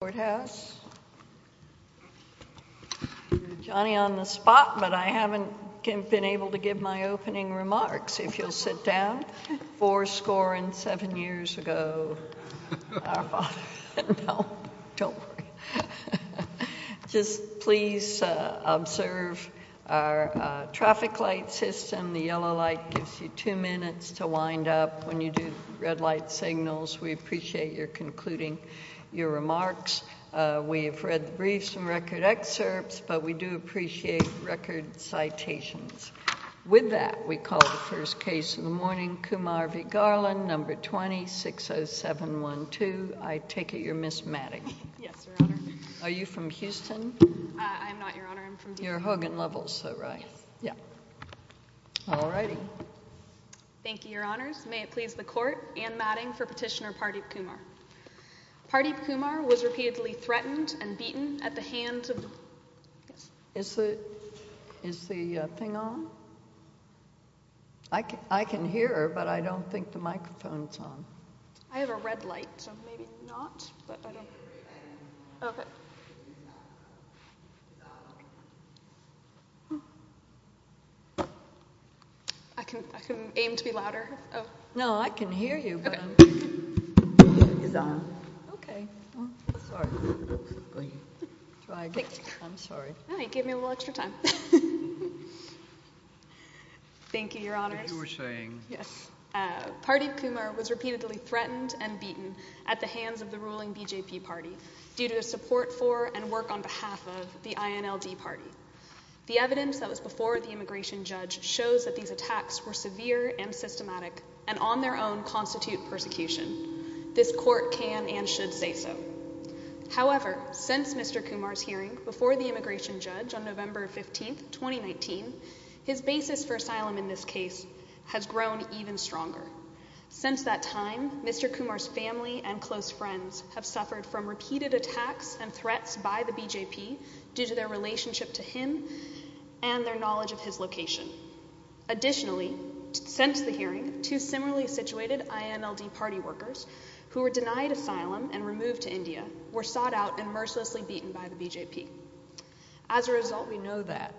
board house. Johnny on the spot, but I haven't been able to give my opening remarks. If you'll sit down. Four score and seven years ago, just please observe our traffic light system. The yellow light gives you two minutes to wind up when you do red light signals. We appreciate your concluding your remarks. We have read the briefs and record excerpts, but we do appreciate record citations. With that, we call the first case in the morning. Kumar v. Garland, number 20-60712. I take it you're Ms. Matting? Yes, Your Honor. Are you from Houston? I'm not, Your Honor. I'm from D.C. You're Hogan Levels, though, right? Yes. Yeah. All righty. Thank you, Your Honors. May it please the Court and Matting for Petitioner Pardeep Kumar. Pardeep Kumar was repeatedly threatened and beaten at the hands of... Is the thing on? I can hear her, but I don't think the microphone's on. I have a red light, so maybe not. I can aim to be louder. No, I can hear you. The microphone is on. Okay. Sorry. I'm sorry. No, you gave me a little extra time. Thank you, Your Honors. If you were saying... Yes. Pardeep Kumar was repeatedly threatened and beaten at the hands of the ruling BJP party due to support for and work on behalf of the INLD party. The evidence that was before the immigration judge shows that these attacks were severe and systematic and on their own constitute persecution. This court can and should say so. However, since Mr. Kumar's hearing before the immigration judge on November 15th, 2019, his basis for asylum in this case has grown even stronger. Since that time, Mr. Kumar's family and close friends have suffered from repeated attacks and threats by the BJP due to their relationship to him and their knowledge of his location. Additionally, since the hearing, two similarly situated INLD party workers who were denied asylum and removed to India were sought out and mercilessly beaten by the BJP. As a result, we know that...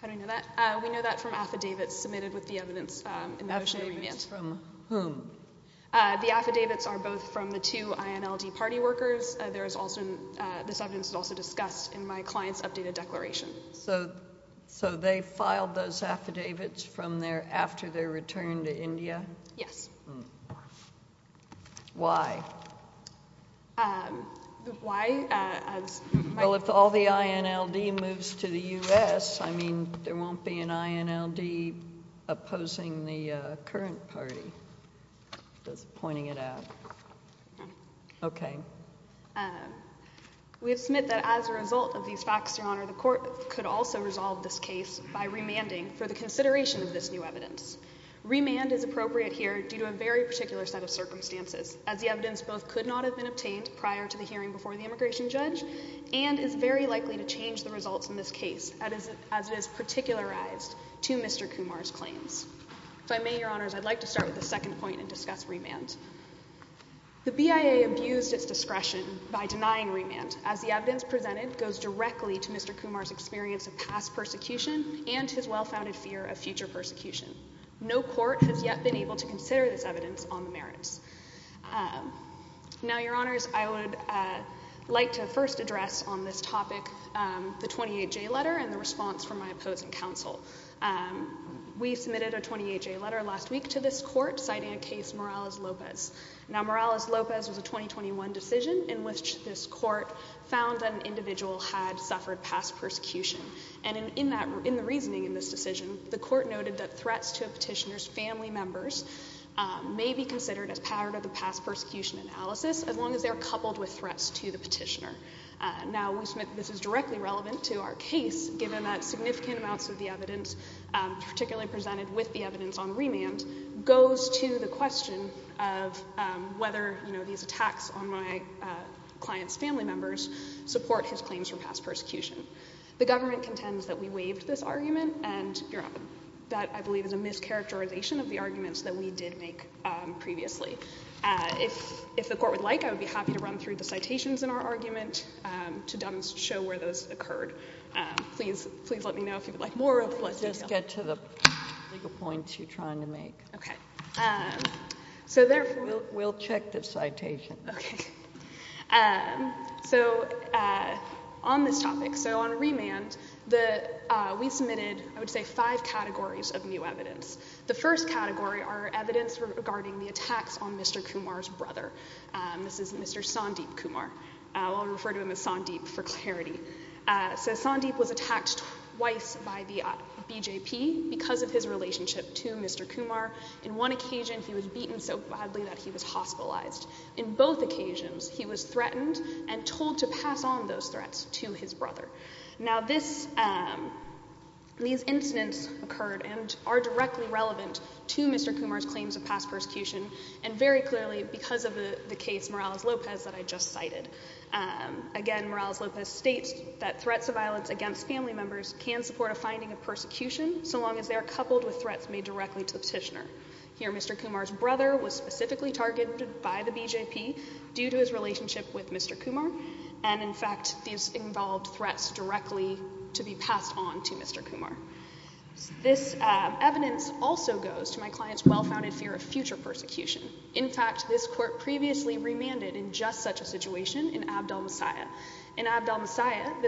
How do we know that? We know that from affidavits submitted with the evidence in the motion. Affidavits from whom? The affidavits are both from the two INLD party workers. This evidence is also discussed in my client's updated declaration. Yes. Why? Why? Well, if all the INLD moves to the U.S., I mean, there won't be an INLD opposing the current party, pointing it out. Okay. We have submitted that as a result of these facts, Your Honor, the court could also resolve this case by remanding for the consideration of this new evidence. Remand is appropriate here due to a very particular set of circumstances, as the evidence both could not have been obtained prior to the hearing before the immigration judge and is very likely to change the results in this case as it is particularized to Mr. Kumar's claims. If I may, Your Honors, I'd like to start with the second point and discuss remand. The BIA abused its discretion by denying remand as the evidence presented goes directly to Mr. Kumar's prosecution and his well-founded fear of future persecution. No court has yet been able to consider this evidence on the merits. Now, Your Honors, I would like to first address on this topic the 28J letter and the response from my opposing counsel. We submitted a 28J letter last week to this court citing a case Morales-Lopez. Now, Morales-Lopez was a 2021 decision in which this court found that an in the reasoning in this decision, the court noted that threats to a petitioner's family members may be considered as part of the past persecution analysis as long as they are coupled with threats to the petitioner. Now, this is directly relevant to our case given that significant amounts of the evidence, particularly presented with the evidence on remand, goes to the question of whether, you know, these attacks on my client's family members support his claims for past persecution. The government contends that we waived this argument and, Your Honor, that, I believe, is a mischaracterization of the arguments that we did make previously. If the court would like, I would be happy to run through the citations in our argument to demonstrate where those occurred. Please let me know if you would like more of them. JUSTICE GINSBURG-MORALES Let's just get to the legal points you're trying to make. MS. TAYLOR Okay. JUSTICE GINSBURG-MORALES So, therefore— JUSTICE GINSBURG-MORALES We'll check the citation. MS. TAYLOR Okay. So, on this topic. So, on remand, we submitted, I would say, five categories of new evidence. The first category are evidence regarding the attacks on Mr. Kumar's brother. This is Mr. Sandeep Kumar. I'll refer to him as Sandeep for clarity. So, Sandeep was attacked twice by the BJP because of his relationship to Mr. Kumar. In one occasion, he was beaten so badly that he was hospitalized. In both occasions, he was threatened and told to pass on those threats to his brother. Now, these incidents occurred and are directly relevant to Mr. Kumar's claims of past persecution, and very clearly because of the case Morales-Lopez that I just cited. Again, Morales-Lopez states that threats of violence against family members can support a finding of persecution so long as they are coupled with threats made directly to the petitioner. Here, Mr. Kumar's brother was specifically targeted by the BJP due to his relationship with Mr. Kumar, and in fact, these involved threats directly to be passed on to Mr. Kumar. This evidence also goes to my client's well-founded fear of future persecution. In fact, this court previously remanded in just such a situation in Abdel-Messiah. In events that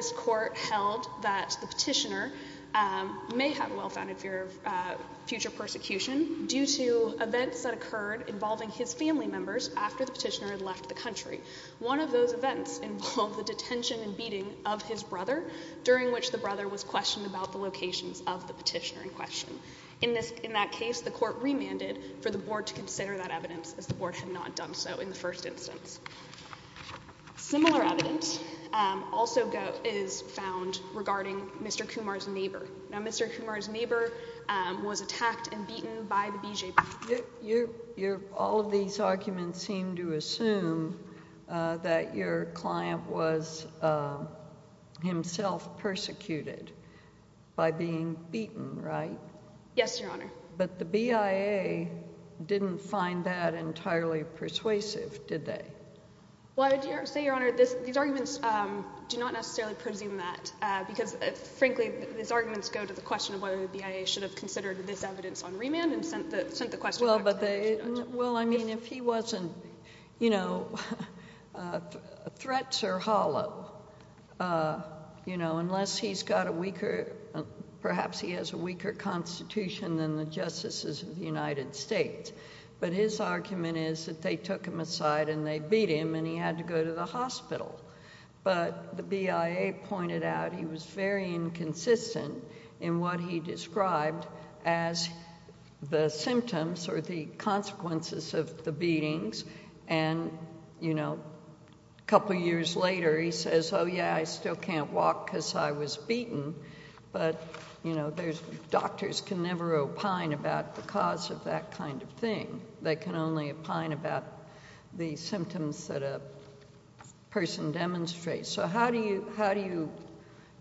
occurred involving his family members after the petitioner had left the country. One of those events involved the detention and beating of his brother, during which the brother was questioned about the locations of the petitioner in question. In that case, the court remanded for the board to consider that evidence, as the board had not done so in the first instance. Similar evidence also is found regarding Mr. Kumar's detention by the BJP. All of these arguments seem to assume that your client was himself persecuted by being beaten, right? Yes, Your Honor. But the BIA didn't find that entirely persuasive, did they? Well, I would say, Your Honor, these arguments do not necessarily presume that, because frankly, these arguments go to the question of whether the BIA should have considered this evidence on remand and sent the question back to the judge. Well, I mean, if he wasn't... you know, threats are hollow, you know, unless he's got a weaker... perhaps he has a weaker constitution than the justices of the United States. But his argument is that they took him aside and they beat him and he had to go to the hospital. But the BIA pointed out he was very inconsistent in what he described as the symptoms or the consequences of the beatings. And, you know, a couple years later he says, oh, yeah, I still can't walk because I was beaten. But, you know, there's... doctors can never opine about the cause of that kind of thing. They can only opine about the symptoms that a person demonstrates. So how do you... how do you,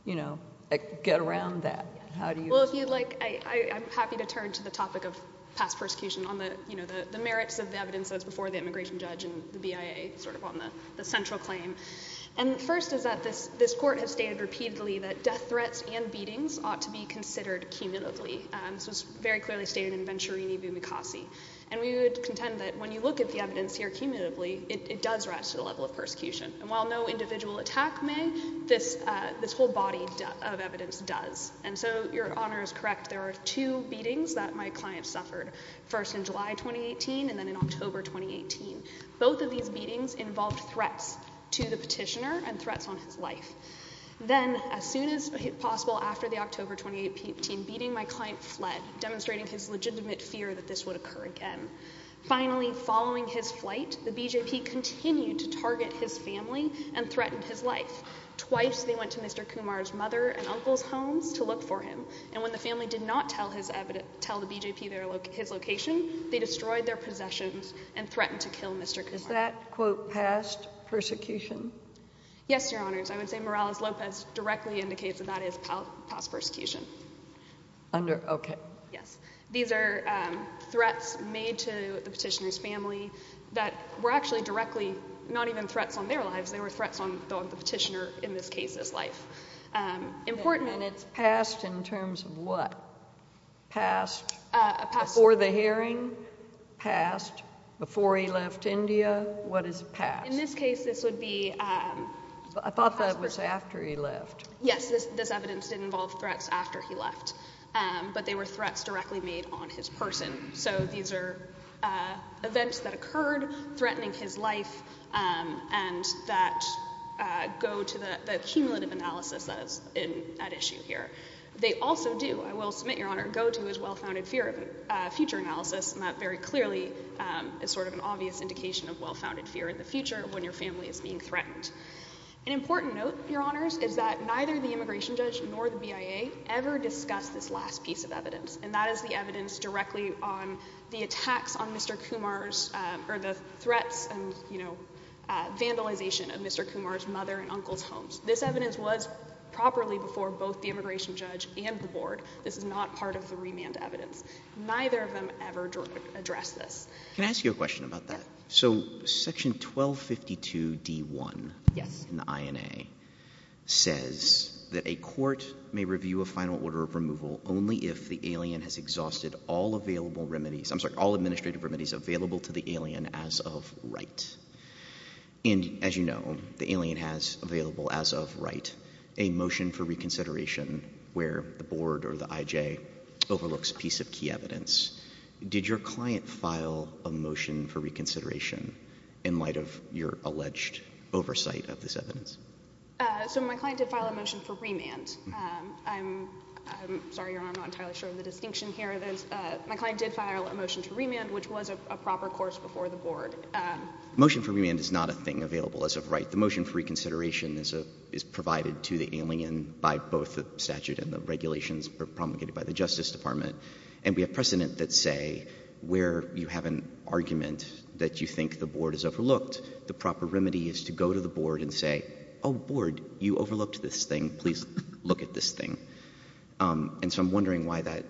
you know, get around that? Well, if you'd like, I'm happy to turn to the topic of past persecution on the, you know, the merits of the evidence that's before the immigration judge and the BIA, sort of on the central claim. And first is that this Court has stated repeatedly that death threats and beatings ought to be considered cumulatively. This was very clearly stated in Venturini v. McCossie. And we would contend that when you look at the evidence here cumulatively, it does rise to the level of persecution. And while no individual attack may, this whole body of evidence does. And so your Honor is correct. There are two beatings that my client suffered, first in July 2018 and then in October 2018. Both of these beatings involved threats to the petitioner and threats on his life. Then, as soon as possible after the October 2018 beating, my client fled, demonstrating his legitimate fear that this would occur again. Finally, following his flight, the BJP continued to target his family and threatened his life. Twice, they went to Mr. Kumar's mother and uncle's homes to look for him. And when the family did not tell his evidence, tell the BJP their, his location, they destroyed their possessions and threatened to kill Mr. Kumar. Is that, quote, past persecution? Yes, Your Honors. I would say Morales-Lopez directly indicates that that is past persecution. Under, okay. Yes. These are threats made to the petitioner's family that were actually directly, not even threats on the petitioner, in this case, his life. Important that it's... Past in terms of what? Past before the hearing? Past before he left India? What is past? In this case, this would be... I thought that was after he left. Yes. This evidence did involve threats after he left, but they were threats directly made on his person. So these are events that occurred, threatening his life, and that go to the cumulative analysis that is at issue here. They also do, I will submit, Your Honor, go to his well-founded fear of future analysis, and that very clearly is sort of an obvious indication of well-founded fear in the future when your family is being threatened. An important note, Your Honors, is that neither the immigration judge nor the BIA ever discussed this last piece of evidence, and that is the evidence directly on the attacks on Mr. Kumar's, or the threats and, you know, vandalization of Mr. Kumar's mother and uncle's homes. This evidence was properly before both the immigration judge and the board. This is not part of the remand evidence. Neither of them ever addressed this. Can I ask you a question about that? Yeah. So section 1252 D1 in the INA says that a court may review a final order of removal only if the alien has exhausted all available remedies, I'm sorry, all administrative remedies available to the alien as of right. And as you know, the alien has available as of right a motion for reconsideration where the board or the IJ overlooks a piece of key evidence. Did your client file a motion for reconsideration in light of your alleged oversight of this evidence? So my client did file a motion for remand. I'm sorry, Your Honor, I'm not entirely sure of the distinction here. My client did file a motion to remand, which was a proper course before the board. Motion for remand is not a thing available as of right. The motion for reconsideration is provided to the alien by both the statute and the regulations promulgated by the Justice Department. And we have precedent that say where you have an argument that you think the board has overlooked, the proper remedy is to go to the board and say, oh, board, you overlooked this thing. Please look at this thing. And so I'm wondering why that,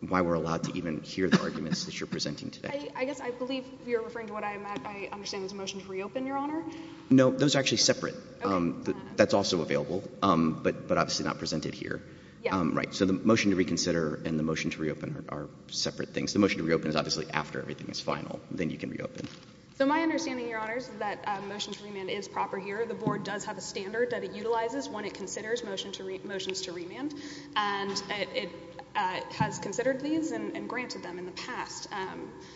why we're allowed to even hear the arguments that you're presenting today. I guess I believe you're referring to what I understand was a motion to reopen, Your Honor. No, those are actually separate. That's also available, but obviously not presented here. Right. So the motion to reconsider and the motion to reopen are separate things. The motion to reopen is obviously after everything is final. Then you can reopen. So my understanding, Your Honors, is that a motion to remand is proper here. The board does have a standard that it utilizes when it considers motions to remand. And it has considered these and granted them in the past.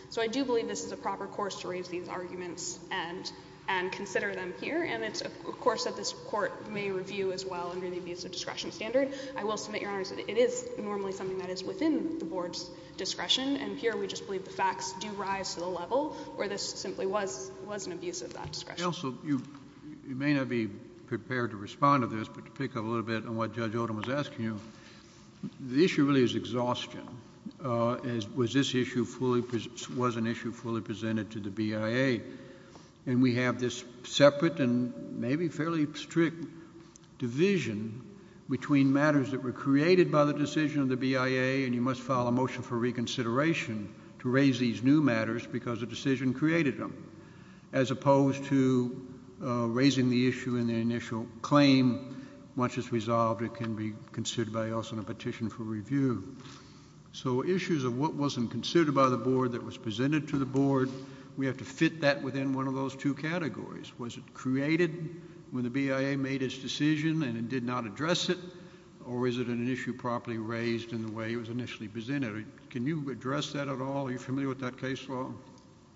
So I do believe this is a proper course to raise these arguments and consider them here. And it's a course that this Court may review as well under the abuse of discretion standard. I will submit, Your Honors, that it is normally something that is within the board's discretion. And here we just believe the facts do rise to the level where this simply was, was an abuse of that discretion. Counsel, you, you may not be prepared to respond to this, but to pick up a little bit on what Judge Odom was asking you, the issue really is exhaustion. Uh, as, was this issue fully pres, was an issue fully presented to the BIA? And we have this separate and maybe fairly strict division between matters that were created by the decision of the BIA, and you must file a motion for reconsideration to raise these new matters because the decision created them, as opposed to, uh, raising the issue in the initial claim. Once it's resolved, it can be considered by us in a petition for review. So issues of what wasn't considered by the board that was presented to the board, we have to fit that within one of those two categories. Was it created when the BIA made its decision and it did not address it, or is it an issue properly raised in the way it was initially presented? Can you address that at all? Are you familiar with that case law?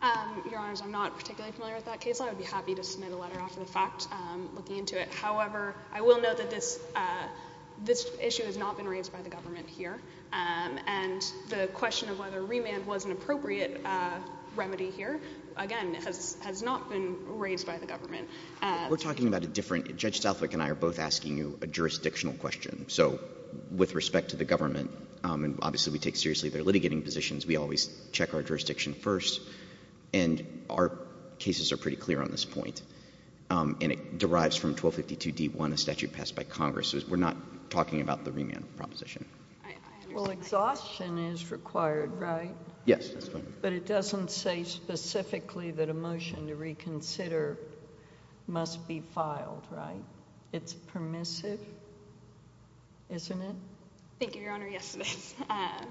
Um, Your Honors, I'm not particularly familiar with that case law. I would be happy to submit a letter after the fact, um, looking into it. However, I will note that this, uh, this issue has not been raised by the government here. Um, and the question of whether remand was an appropriate, uh, remedy here, again, has, has not been raised by the government. Uh, We're talking about a different, Judge Southwick and I are both asking you a jurisdictional question. So with respect to the government, um, and obviously we take seriously their litigating positions, we always check our jurisdiction first, and our cases are pretty clear on this point. Um, and it derives from 1252d1, a statute passed by Congress. We're not talking about the remand proposition. Well, exhaustion is required, right? Yes. But it doesn't say specifically that a motion to reconsider must be filed, right? It's permissive, isn't it? Thank you, Your Honor. Yes, it is. Um,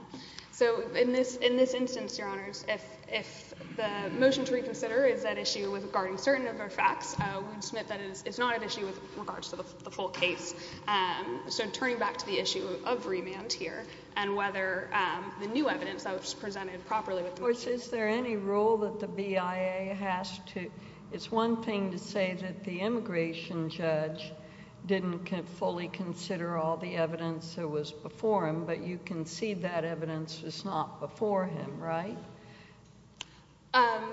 so in this, in this instance, Your Honors, if, if the motion to reconsider is at issue with regarding certain of our facts, uh, we would submit that it is, it's not at issue with regards to the, the full case. Um, so turning back to the issue of remand here and whether, um, the new evidence that was presented properly with the motion. Of course, is there any rule that the BIA has to, it's one thing to say that the immigration judge didn't fully consider all the evidence that was before him, but you can see that evidence is not before him, right? Um,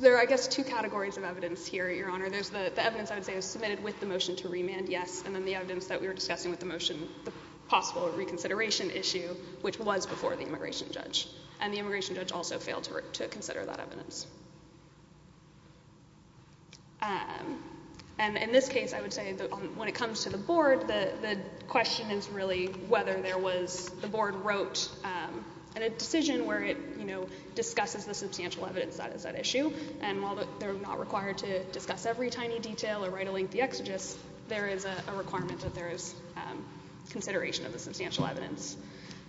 there are, I guess, two categories of evidence here, Your Honor. There's the, the evidence I would say was submitted with the motion to remand, yes, and then the evidence that we were discussing with the motion, the possible reconsideration issue, which was before the immigration judge and the immigration judge also failed to, to consider that evidence. Um, and in this case, I would say that when it comes to the board, the, the question is really whether there was, the board wrote, um, a decision where it, you know, discusses the substantial evidence that is at issue and while they're not required to discuss every tiny detail or write a lengthy exegesis, there is a requirement that there is, um, consideration of the substantial evidence.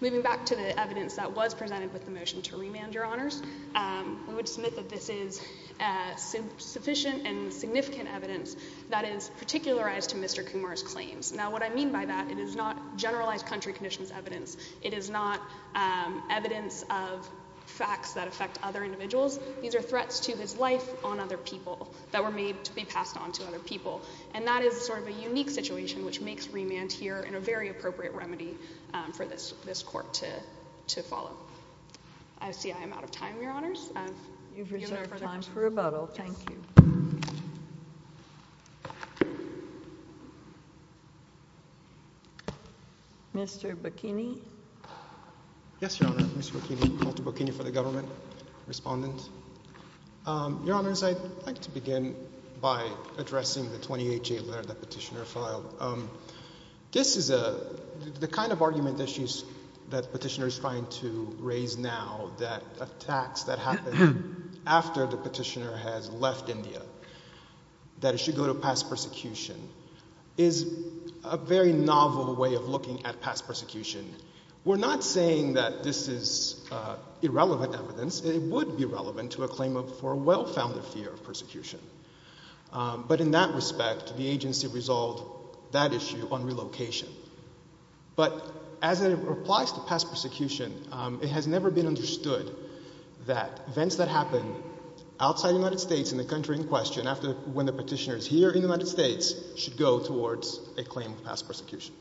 Moving back to the evidence that was presented with the motion to remand, Your Honors, um, we would submit that this is, uh, sufficient and significant evidence that is particularized to Mr. Kumar's claims. Now, what I mean by that, it is not generalized country conditions evidence. It is not, um, evidence of facts that affect other individuals. These are threats to his life on other people that were made to be passed on to other people and that is sort of a unique situation which makes remand here in a very appropriate remedy, um, for this, this court to, to follow. I see I am out of time, Your Honors. You've reserved time for rebuttal. Thank you. Mr. Bikini? Yes, Your Honor. Mr. Bikini. Walter Bikini for the government. Thank you, Your Honor. Respondent. Um, Your Honors, I'd like to begin by addressing the 28-J letter that Petitioner filed. Um, this is a, the kind of argument that she's, that Petitioner is trying to raise now, that attacks that happened after the Petitioner has left India, that it should go to past persecution, is a very novel way of looking at past persecution. We're not saying that this is, uh, irrelevant evidence. It would be relevant to a claim of, for a well-founded fear of persecution. Um, but in that respect, the agency resolved that issue on relocation. But as it applies to past persecution, um, it has never been understood that events that happen outside the United States in the country in question after when the Petitioner is here in the United States should go towards a claim of past persecution.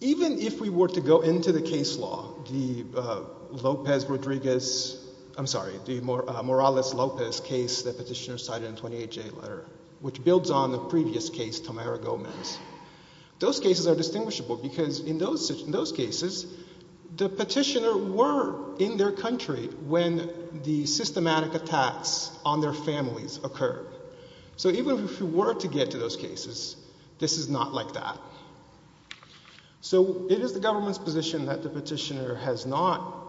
Even if we were to go into the case law, the, uh, Lopez Rodriguez, I'm sorry, the Morales Lopez case that Petitioner cited in the 28-J letter, which builds on the previous case, Tamara Gomez, those cases are distinguishable because in those, in those cases, the Petitioner were in their country when the systematic attacks on their families occurred. So even if we were to get to those cases, this is not like that. So it is the government's position that the Petitioner has not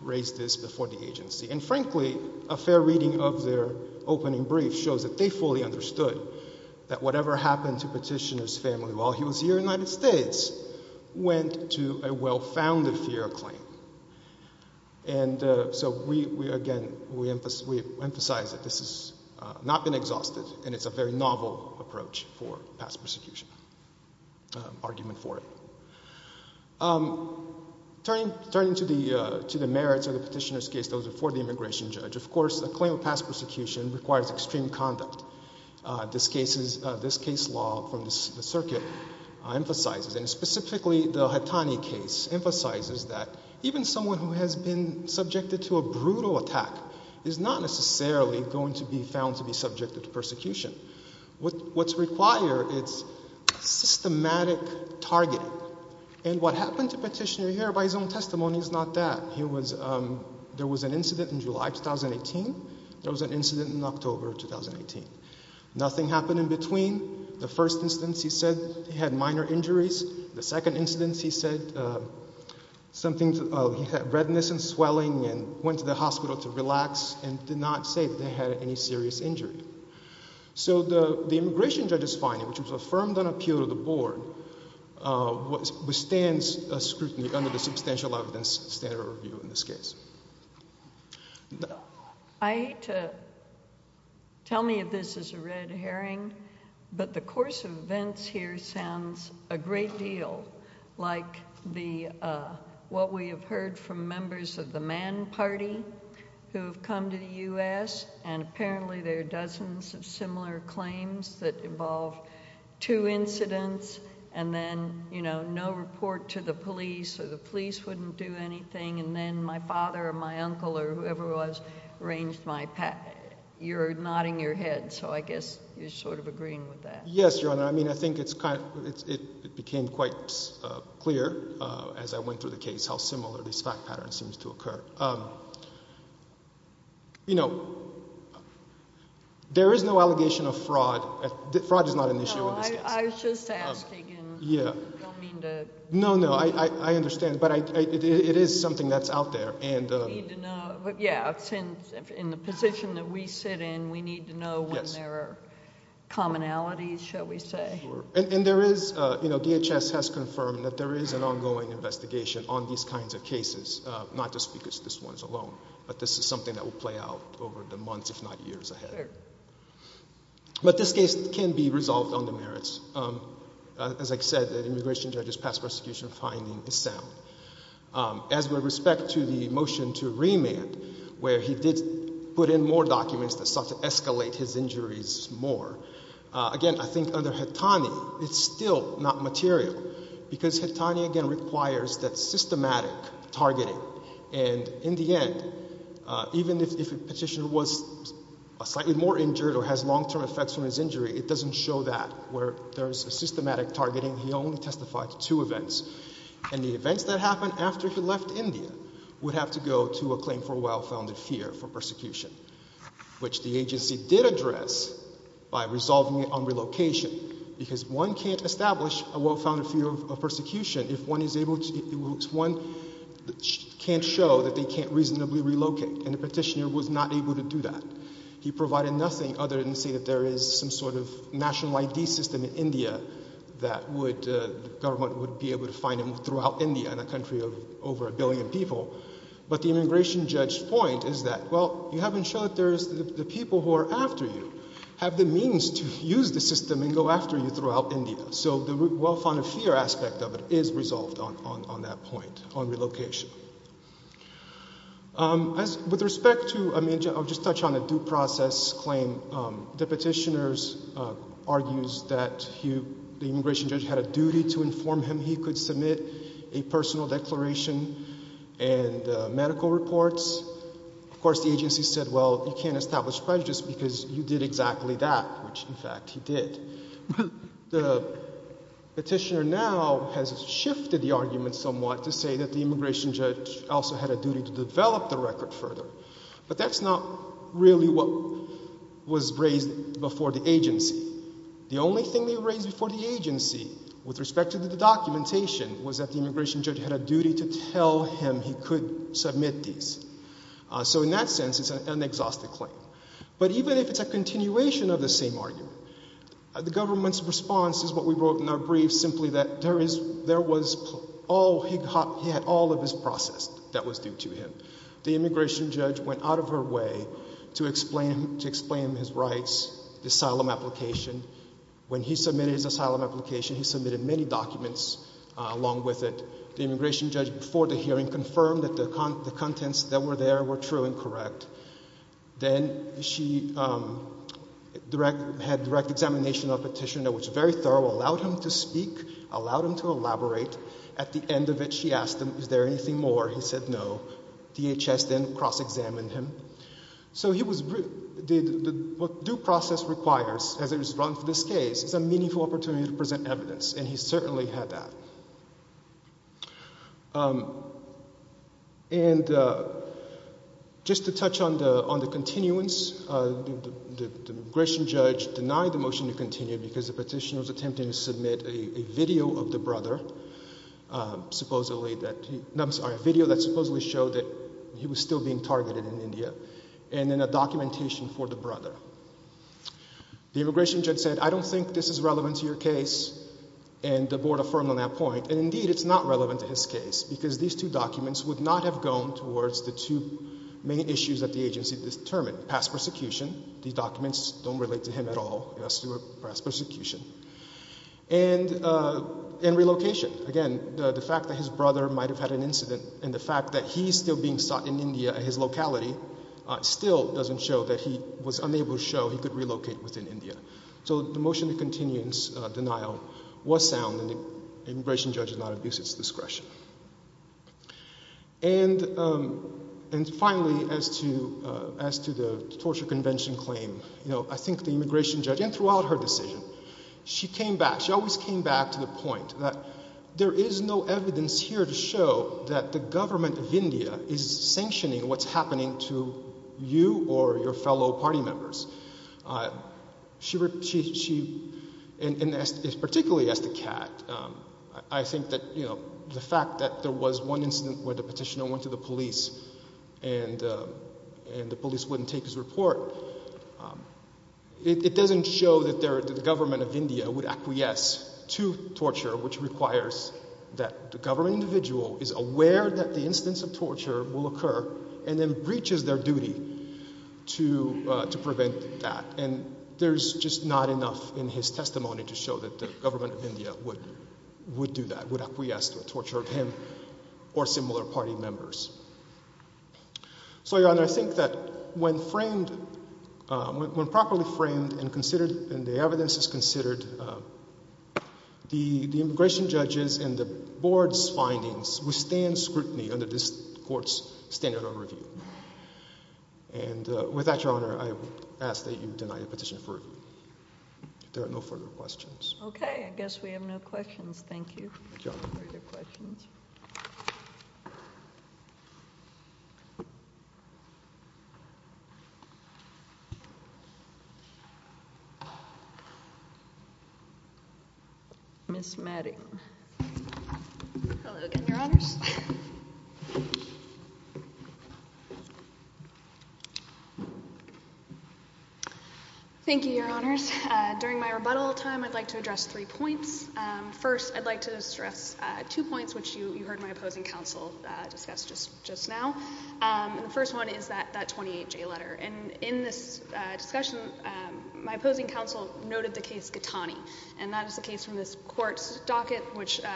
raised this before the agency. And frankly, a fair reading of their opening brief shows that they fully understood that whatever happened to Petitioner's family while he was here in the United States went to a well-founded fear of claim. And, uh, so we, we again, we emphasize, we emphasize that this has not been exhausted and it's a very novel approach for past persecution, uh, argument for it. Um, turning, turning to the, uh, to the merits of the Petitioner's case, those are for the immigration judge. Of course, a claim of past persecution requires extreme conduct. Uh, this case is, uh, this case law from the circuit, uh, emphasizes, and specifically the Hatani case, emphasizes that even someone who has been subjected to a brutal attack is not necessarily going to be found to be subjected to persecution. What, what's required is systematic targeting. And what happened to Petitioner here by his own testimony is not that. He was, um, there was an incident in July 2018. There was an incident in October 2018. Nothing happened in between. The first instance he said he had minor injuries. The second instance he said, uh, something, uh, he had redness and swelling and went to the hospital to relax and did not say that he had any serious injury. So the, the immigration judge's finding, which was affirmed on appeal to the Board, uh, withstands scrutiny under the substantial evidence standard review in this case. I hate to tell me if this is a red herring, but the course of events here sounds a great deal like the, uh, what we have heard from members of the Mann Party who have come to the U.S. and apparently there are dozens of similar claims that involve two incidents and then, you know, no report to the police or the police wouldn't do anything and then my father or my uncle or whoever it was arranged my, you're nodding your head, so I guess you're sort of agreeing with that. Yes, Your Honor. I mean, I think it's kind of, it, it became quite, uh, clear, uh, as I went through the case how similar this fact pattern seems to occur. Um, you know, there is no allegation of fraud. Fraud is not an issue in this case. No, I, I was just asking. Yeah. I don't mean to. No, no, I, I, I understand, but I, I, it, it is something that's out there and, uh. We need to know, but yeah, since in the position that we sit in, we need to know when there are commonalities, shall we say. And, and there is, uh, you know, DHS has confirmed that there is an ongoing investigation on these kinds of cases, uh, not just because this one's alone, but this is something that will play out over the months, if not years ahead. But this case can be resolved on the merits. Um, uh, as I said, the immigration judge's past prosecution finding is sound. Um, as with respect to the motion to remand, where he did put in more documents that sought to escalate his injuries more, uh, again, I think under Hetani, it's still not material because Hetani, again, requires that systematic targeting. And in the end, uh, even if, if a petitioner was slightly more injured or has long-term effects from his injury, it doesn't show that where there's a systematic targeting. He only testified to two events. And the events that happened after he left India would have to go to a claim for well-founded fear for persecution, which the agency did address by resolving it on relocation because one can't establish a well-founded fear of persecution if one is able to, if one can't show that they can't reasonably relocate. And the petitioner was not able to do that. He provided nothing other than say that there is some sort of national ID system in India that would, uh, the government would be able to find him throughout India in a country of over a billion people. But the immigration judge's point is that, well, you haven't shown that there's the people who are after you have the means to use the system and go after you throughout India. So the well-founded fear aspect of it is resolved on, on, on that point on relocation. Um, as with respect to, I mean, I'll just touch on a due process claim. Um, the petitioners, uh, argues that he, the immigration judge had a duty to inform him he could submit a personal declaration and, uh, medical reports. Of course, the agency said, well, you can't establish prejudice because you did exactly that, which in fact he did. But the petitioner now has shifted the argument somewhat to say that the immigration judge also had a duty to develop the record further. But that's not really what was raised before the agency. The only thing they raised before the agency with respect to the documentation was that the immigration judge had a duty to tell him he could submit these. Uh, so in that sense, it's an, an exhaustive claim. But even if it's a continuation of the same argument, the government's response is what we wrote in our brief, simply that there is, there was all, he had all of his process that was due to him. The immigration judge went out of her way to explain, to explain his rights, the asylum application. When he submitted his asylum application, he submitted many documents, uh, along with it. The immigration judge before the hearing confirmed that the, the contents that were there were true and correct. Then she, um, direct, had direct examination of the petitioner, which very thorough, allowed him to speak, allowed him to elaborate. At the end of it, she asked him, is there anything more? He said no. DHS then cross-examined him. So he was, did, what due process requires as it was run for this case is a meaningful opportunity to present evidence, and he certainly had that. Um, and, uh, just to touch on the, on the continuance, uh, the, the, the immigration judge denied the motion to continue because the petitioner was attempting to submit a, a video of the brother, uh, supposedly that he, I'm sorry, a video that supposedly showed that he was still being targeted in India, and then a documentation for the brother. The immigration judge said, I don't think this is relevant to your case, and the board affirmed on that point, and indeed it's not relevant to his case, because these two documents would not have gone towards the two main issues that the agency determined, past persecution, these documents don't relate to him at all as to a past persecution, and, uh, and relocation. Again, the, the fact that his brother might have had an incident, and the fact that he's still being sought in India at his locality, uh, still doesn't show that he was unable to show he could relocate within India. So the, the motion to continuance, uh, denial was sound, and the immigration judge did not abuse its discretion. And, um, and finally, as to, uh, as to the torture convention claim, you know, I think the immigration judge, and throughout her decision, she came back, she always came back to the point that there is no evidence here to show that the government of India is sanctioning what's happening to you or your fellow party members. Uh, she re, she, she, and, and as, particularly as to Kat, um, I think that, you know, the fact that there was one incident where the petitioner went to the police, and, uh, and the police wouldn't take his report, um, it, it doesn't show that there, that the government of India would acquiesce to torture, which requires that the government individual is aware that the instance of torture will occur, and then breaches their duty to, uh, to prevent that. And there's just not enough in his testimony to show that the government of India would, would do that, would acquiesce to a torture of him or similar party members. So, Your Honor, I think that when framed, uh, when, when properly framed and considered, and the evidence is considered, uh, the, the immigration judges and the board's findings withstand scrutiny under this court's standard of review. And, uh, with that, Your Honor, I ask that you deny the petition for review. If there are no further questions. Okay. I guess we have no questions. Thank you. Thank you, Your Honor. No further questions. Ms. Madding. Hello again, Your Honors. Thank you, Your Honors. Uh, during my rebuttal time, I'd like to address three points. Um, first, I'd like to stress, uh, two points, which you, you heard my opposing counsel, uh, discuss just, just now. Um, and the first one is that, that 28-J letter. And in this, uh, discussion, um, my opposing counsel noted the case Ghatani. And that is a case from this court's docket, which, uh,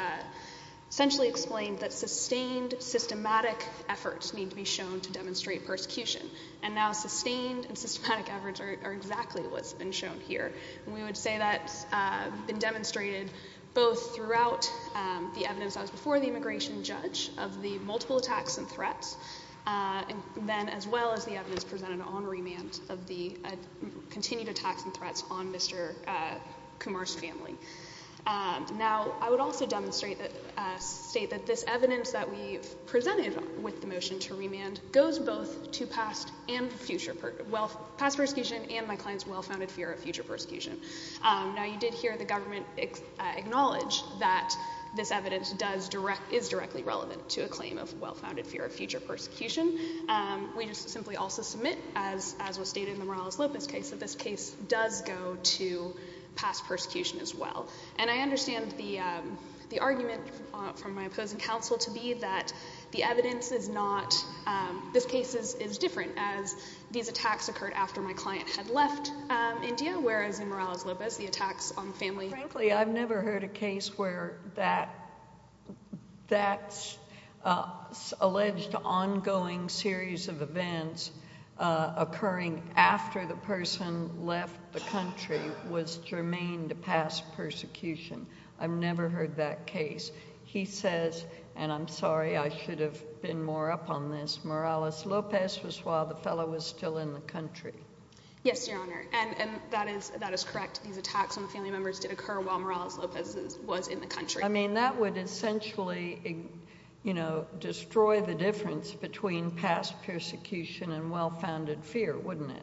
essentially explained that sustained systematic efforts need to be shown to demonstrate persecution. And now sustained and systematic efforts are exactly what's been shown here. And we would say that's, uh, been demonstrated both throughout, um, the evidence that was before the immigration judge of the multiple attacks and threats, uh, and then as well as the evidence presented on remand of the, uh, continued attacks and threats on Mr., uh, Kumar's family. Um, now I would also demonstrate that, uh, state that this evidence that we've presented with the motion to remand goes both to past and future, well, past persecution and my client's well-founded fear of future persecution. Um, now you did hear the government, uh, acknowledge that this evidence does direct, is directly relevant to a claim of well-founded fear of future persecution. Um, we just simply also submit as, as was stated in the Morales-Lopez case that this case does go to past persecution as well. And I understand the, um, the argument from, uh, from my opposing counsel to be that the evidence is not, um, this case is, is different as these attacks occurred after my client had left, um, India, whereas in Morales-Lopez, the attacks on family. Frankly, I've never heard a case where that, that's, uh, alleged ongoing series of events, uh, occurring after the person left the country was germane to past persecution. I've never heard that case. He says, and I'm sorry, I should have been more up on this, Morales-Lopez was while the fellow was still in the country. Yes, Your Honor. And, and that is, that is correct. These attacks on the family members did occur while Morales-Lopez was in the country. I mean, that would essentially, you know, destroy the difference between past persecution and well-founded fear, wouldn't it?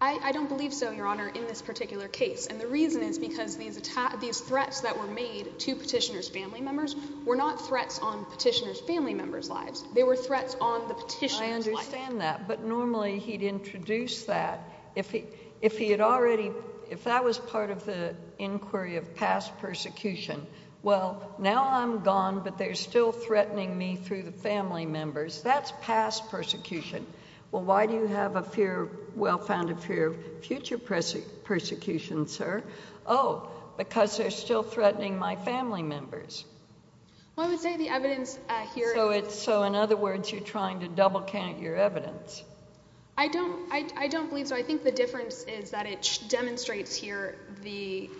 I, I don't believe so, Your Honor, in this particular case. And the reason is because these attacks, these threats that were made to petitioner's family members were not threats on petitioner's family members' lives. They were threats on the petitioner's life. I understand that, but normally he'd introduce that if he, if he had already, if that was part of the inquiry of past persecution, well, now I'm gone, but they're still threatening me through the family members. That's past persecution. Well, why do you have a fear, well-founded fear of future persecution, sir? Oh, because they're still threatening my family members. Well, I would say the evidence here... So it's, so in other words, you're trying to double count your evidence. I don't, I, I don't believe so. I think the difference is that it demonstrates here the,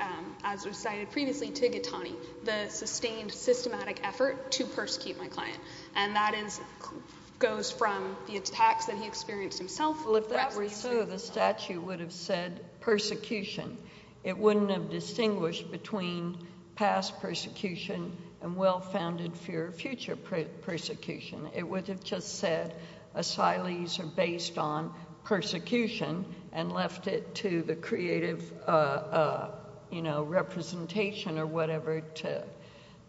as was cited previously to Getani, the sustained systematic effort to persecute my client. And that is, goes from the attacks that he experienced himself... Well, if that were so, the statute would have said persecution. It wouldn't have distinguished between past persecution and well-founded fear of future persecution. It would have just said asylees are based on persecution and left it to the creative, you know, representation or whatever to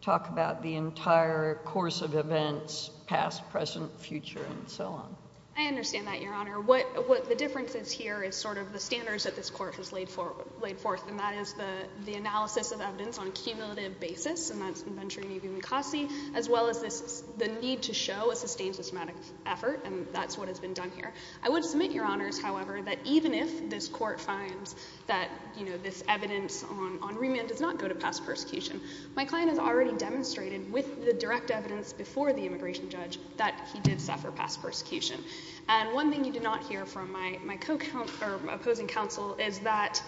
talk about the entire course of events, past, present, future, and so on. I understand that, Your Honor. What, what the difference is here is sort of the standards that this Court has laid for, laid forth, and that is the, the analysis of evidence on a cumulative basis, and that's in Venturi, Nevi, and McCossie, as well as this, the need to show a sustained systematic effort, and that's what has been done here. I would submit, Your Honors, however, that even if this Court finds that, you know, this evidence on, on cumulative past persecution, my client has already demonstrated, with the direct evidence before the immigration judge, that he did suffer past persecution. And one thing you do not hear from my, my co-counsel, or opposing counsel, is that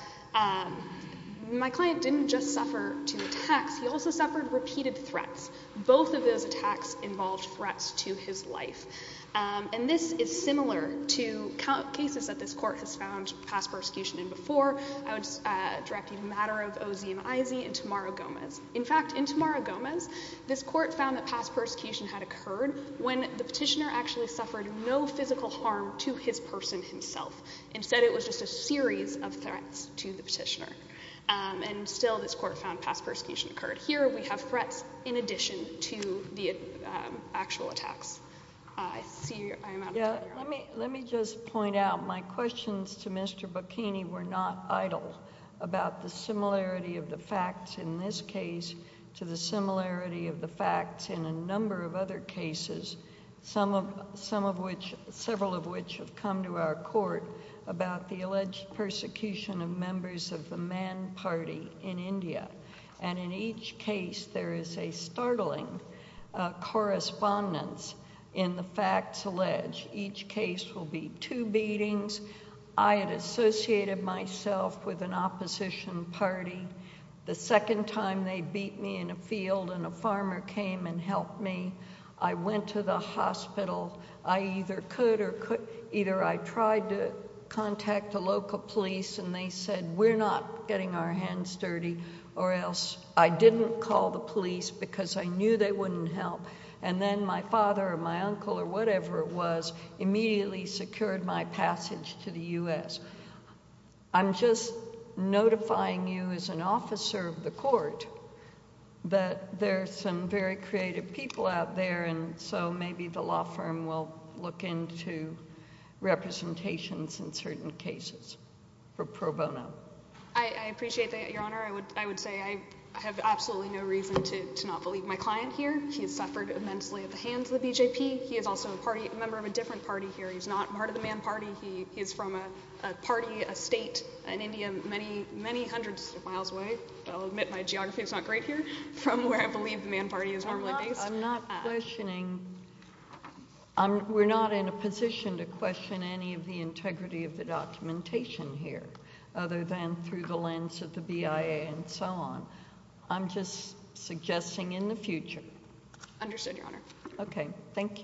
my client didn't just suffer two attacks. He also suffered repeated threats. Both of those attacks involved threats to his life. And this is similar to cases that this Court has found past persecution in before. I would direct a matter of O. Z. and I. Z. in Tamara Gomez. In fact, in Tamara Gomez, this Court found that past persecution had occurred when the petitioner actually suffered no physical harm to his person himself. Instead, it was just a series of threats to the petitioner. And still, this Court found past persecution occurred. Here, we have threats in addition to the actual attacks. I see, I am out of time, Your Honor. Let me, let me just point out, my questions to Mr. Bocchini were not idle about the similarity of the facts in this case to the similarity of the facts in a number of other cases, some of, some of which, several of which have come to our Court, about the alleged persecution of members of the Mann Party in India. And in each case, there is a startling correspondence in the facts alleged. Each case will be two beatings. I had associated myself with an opposition party. The second time they beat me in a field and a farmer came and helped me, I went to the hospital. I either could or could... either I tried to contact the local police and they said, we're not getting our hands dirty or else... I didn't call the police because I knew they wouldn't help. And then my father or my uncle or whatever it was, immediately secured my passage to the U.S. I'm just notifying you as an officer of the Court that there are some very creative people out there and so maybe the law firm will look into representations in certain cases for pro bono. I appreciate that, Your Honor. I would say I have absolutely no reason to not believe my client here. He has suffered immensely at the hands of the BJP. He is also a party, a member of a different party here. He's not part of the Mann Party. He is from a party, a state in India many, many hundreds of miles away. I'll admit my geography is not great here, from where I believe the Mann Party is normally based. I'm not questioning... we're not in a position to question any of the integrity of the documentation here, other than through the lens of the BIA and so on. I'm just suggesting in the future. Understood, Your Honor. Okay. Thank you.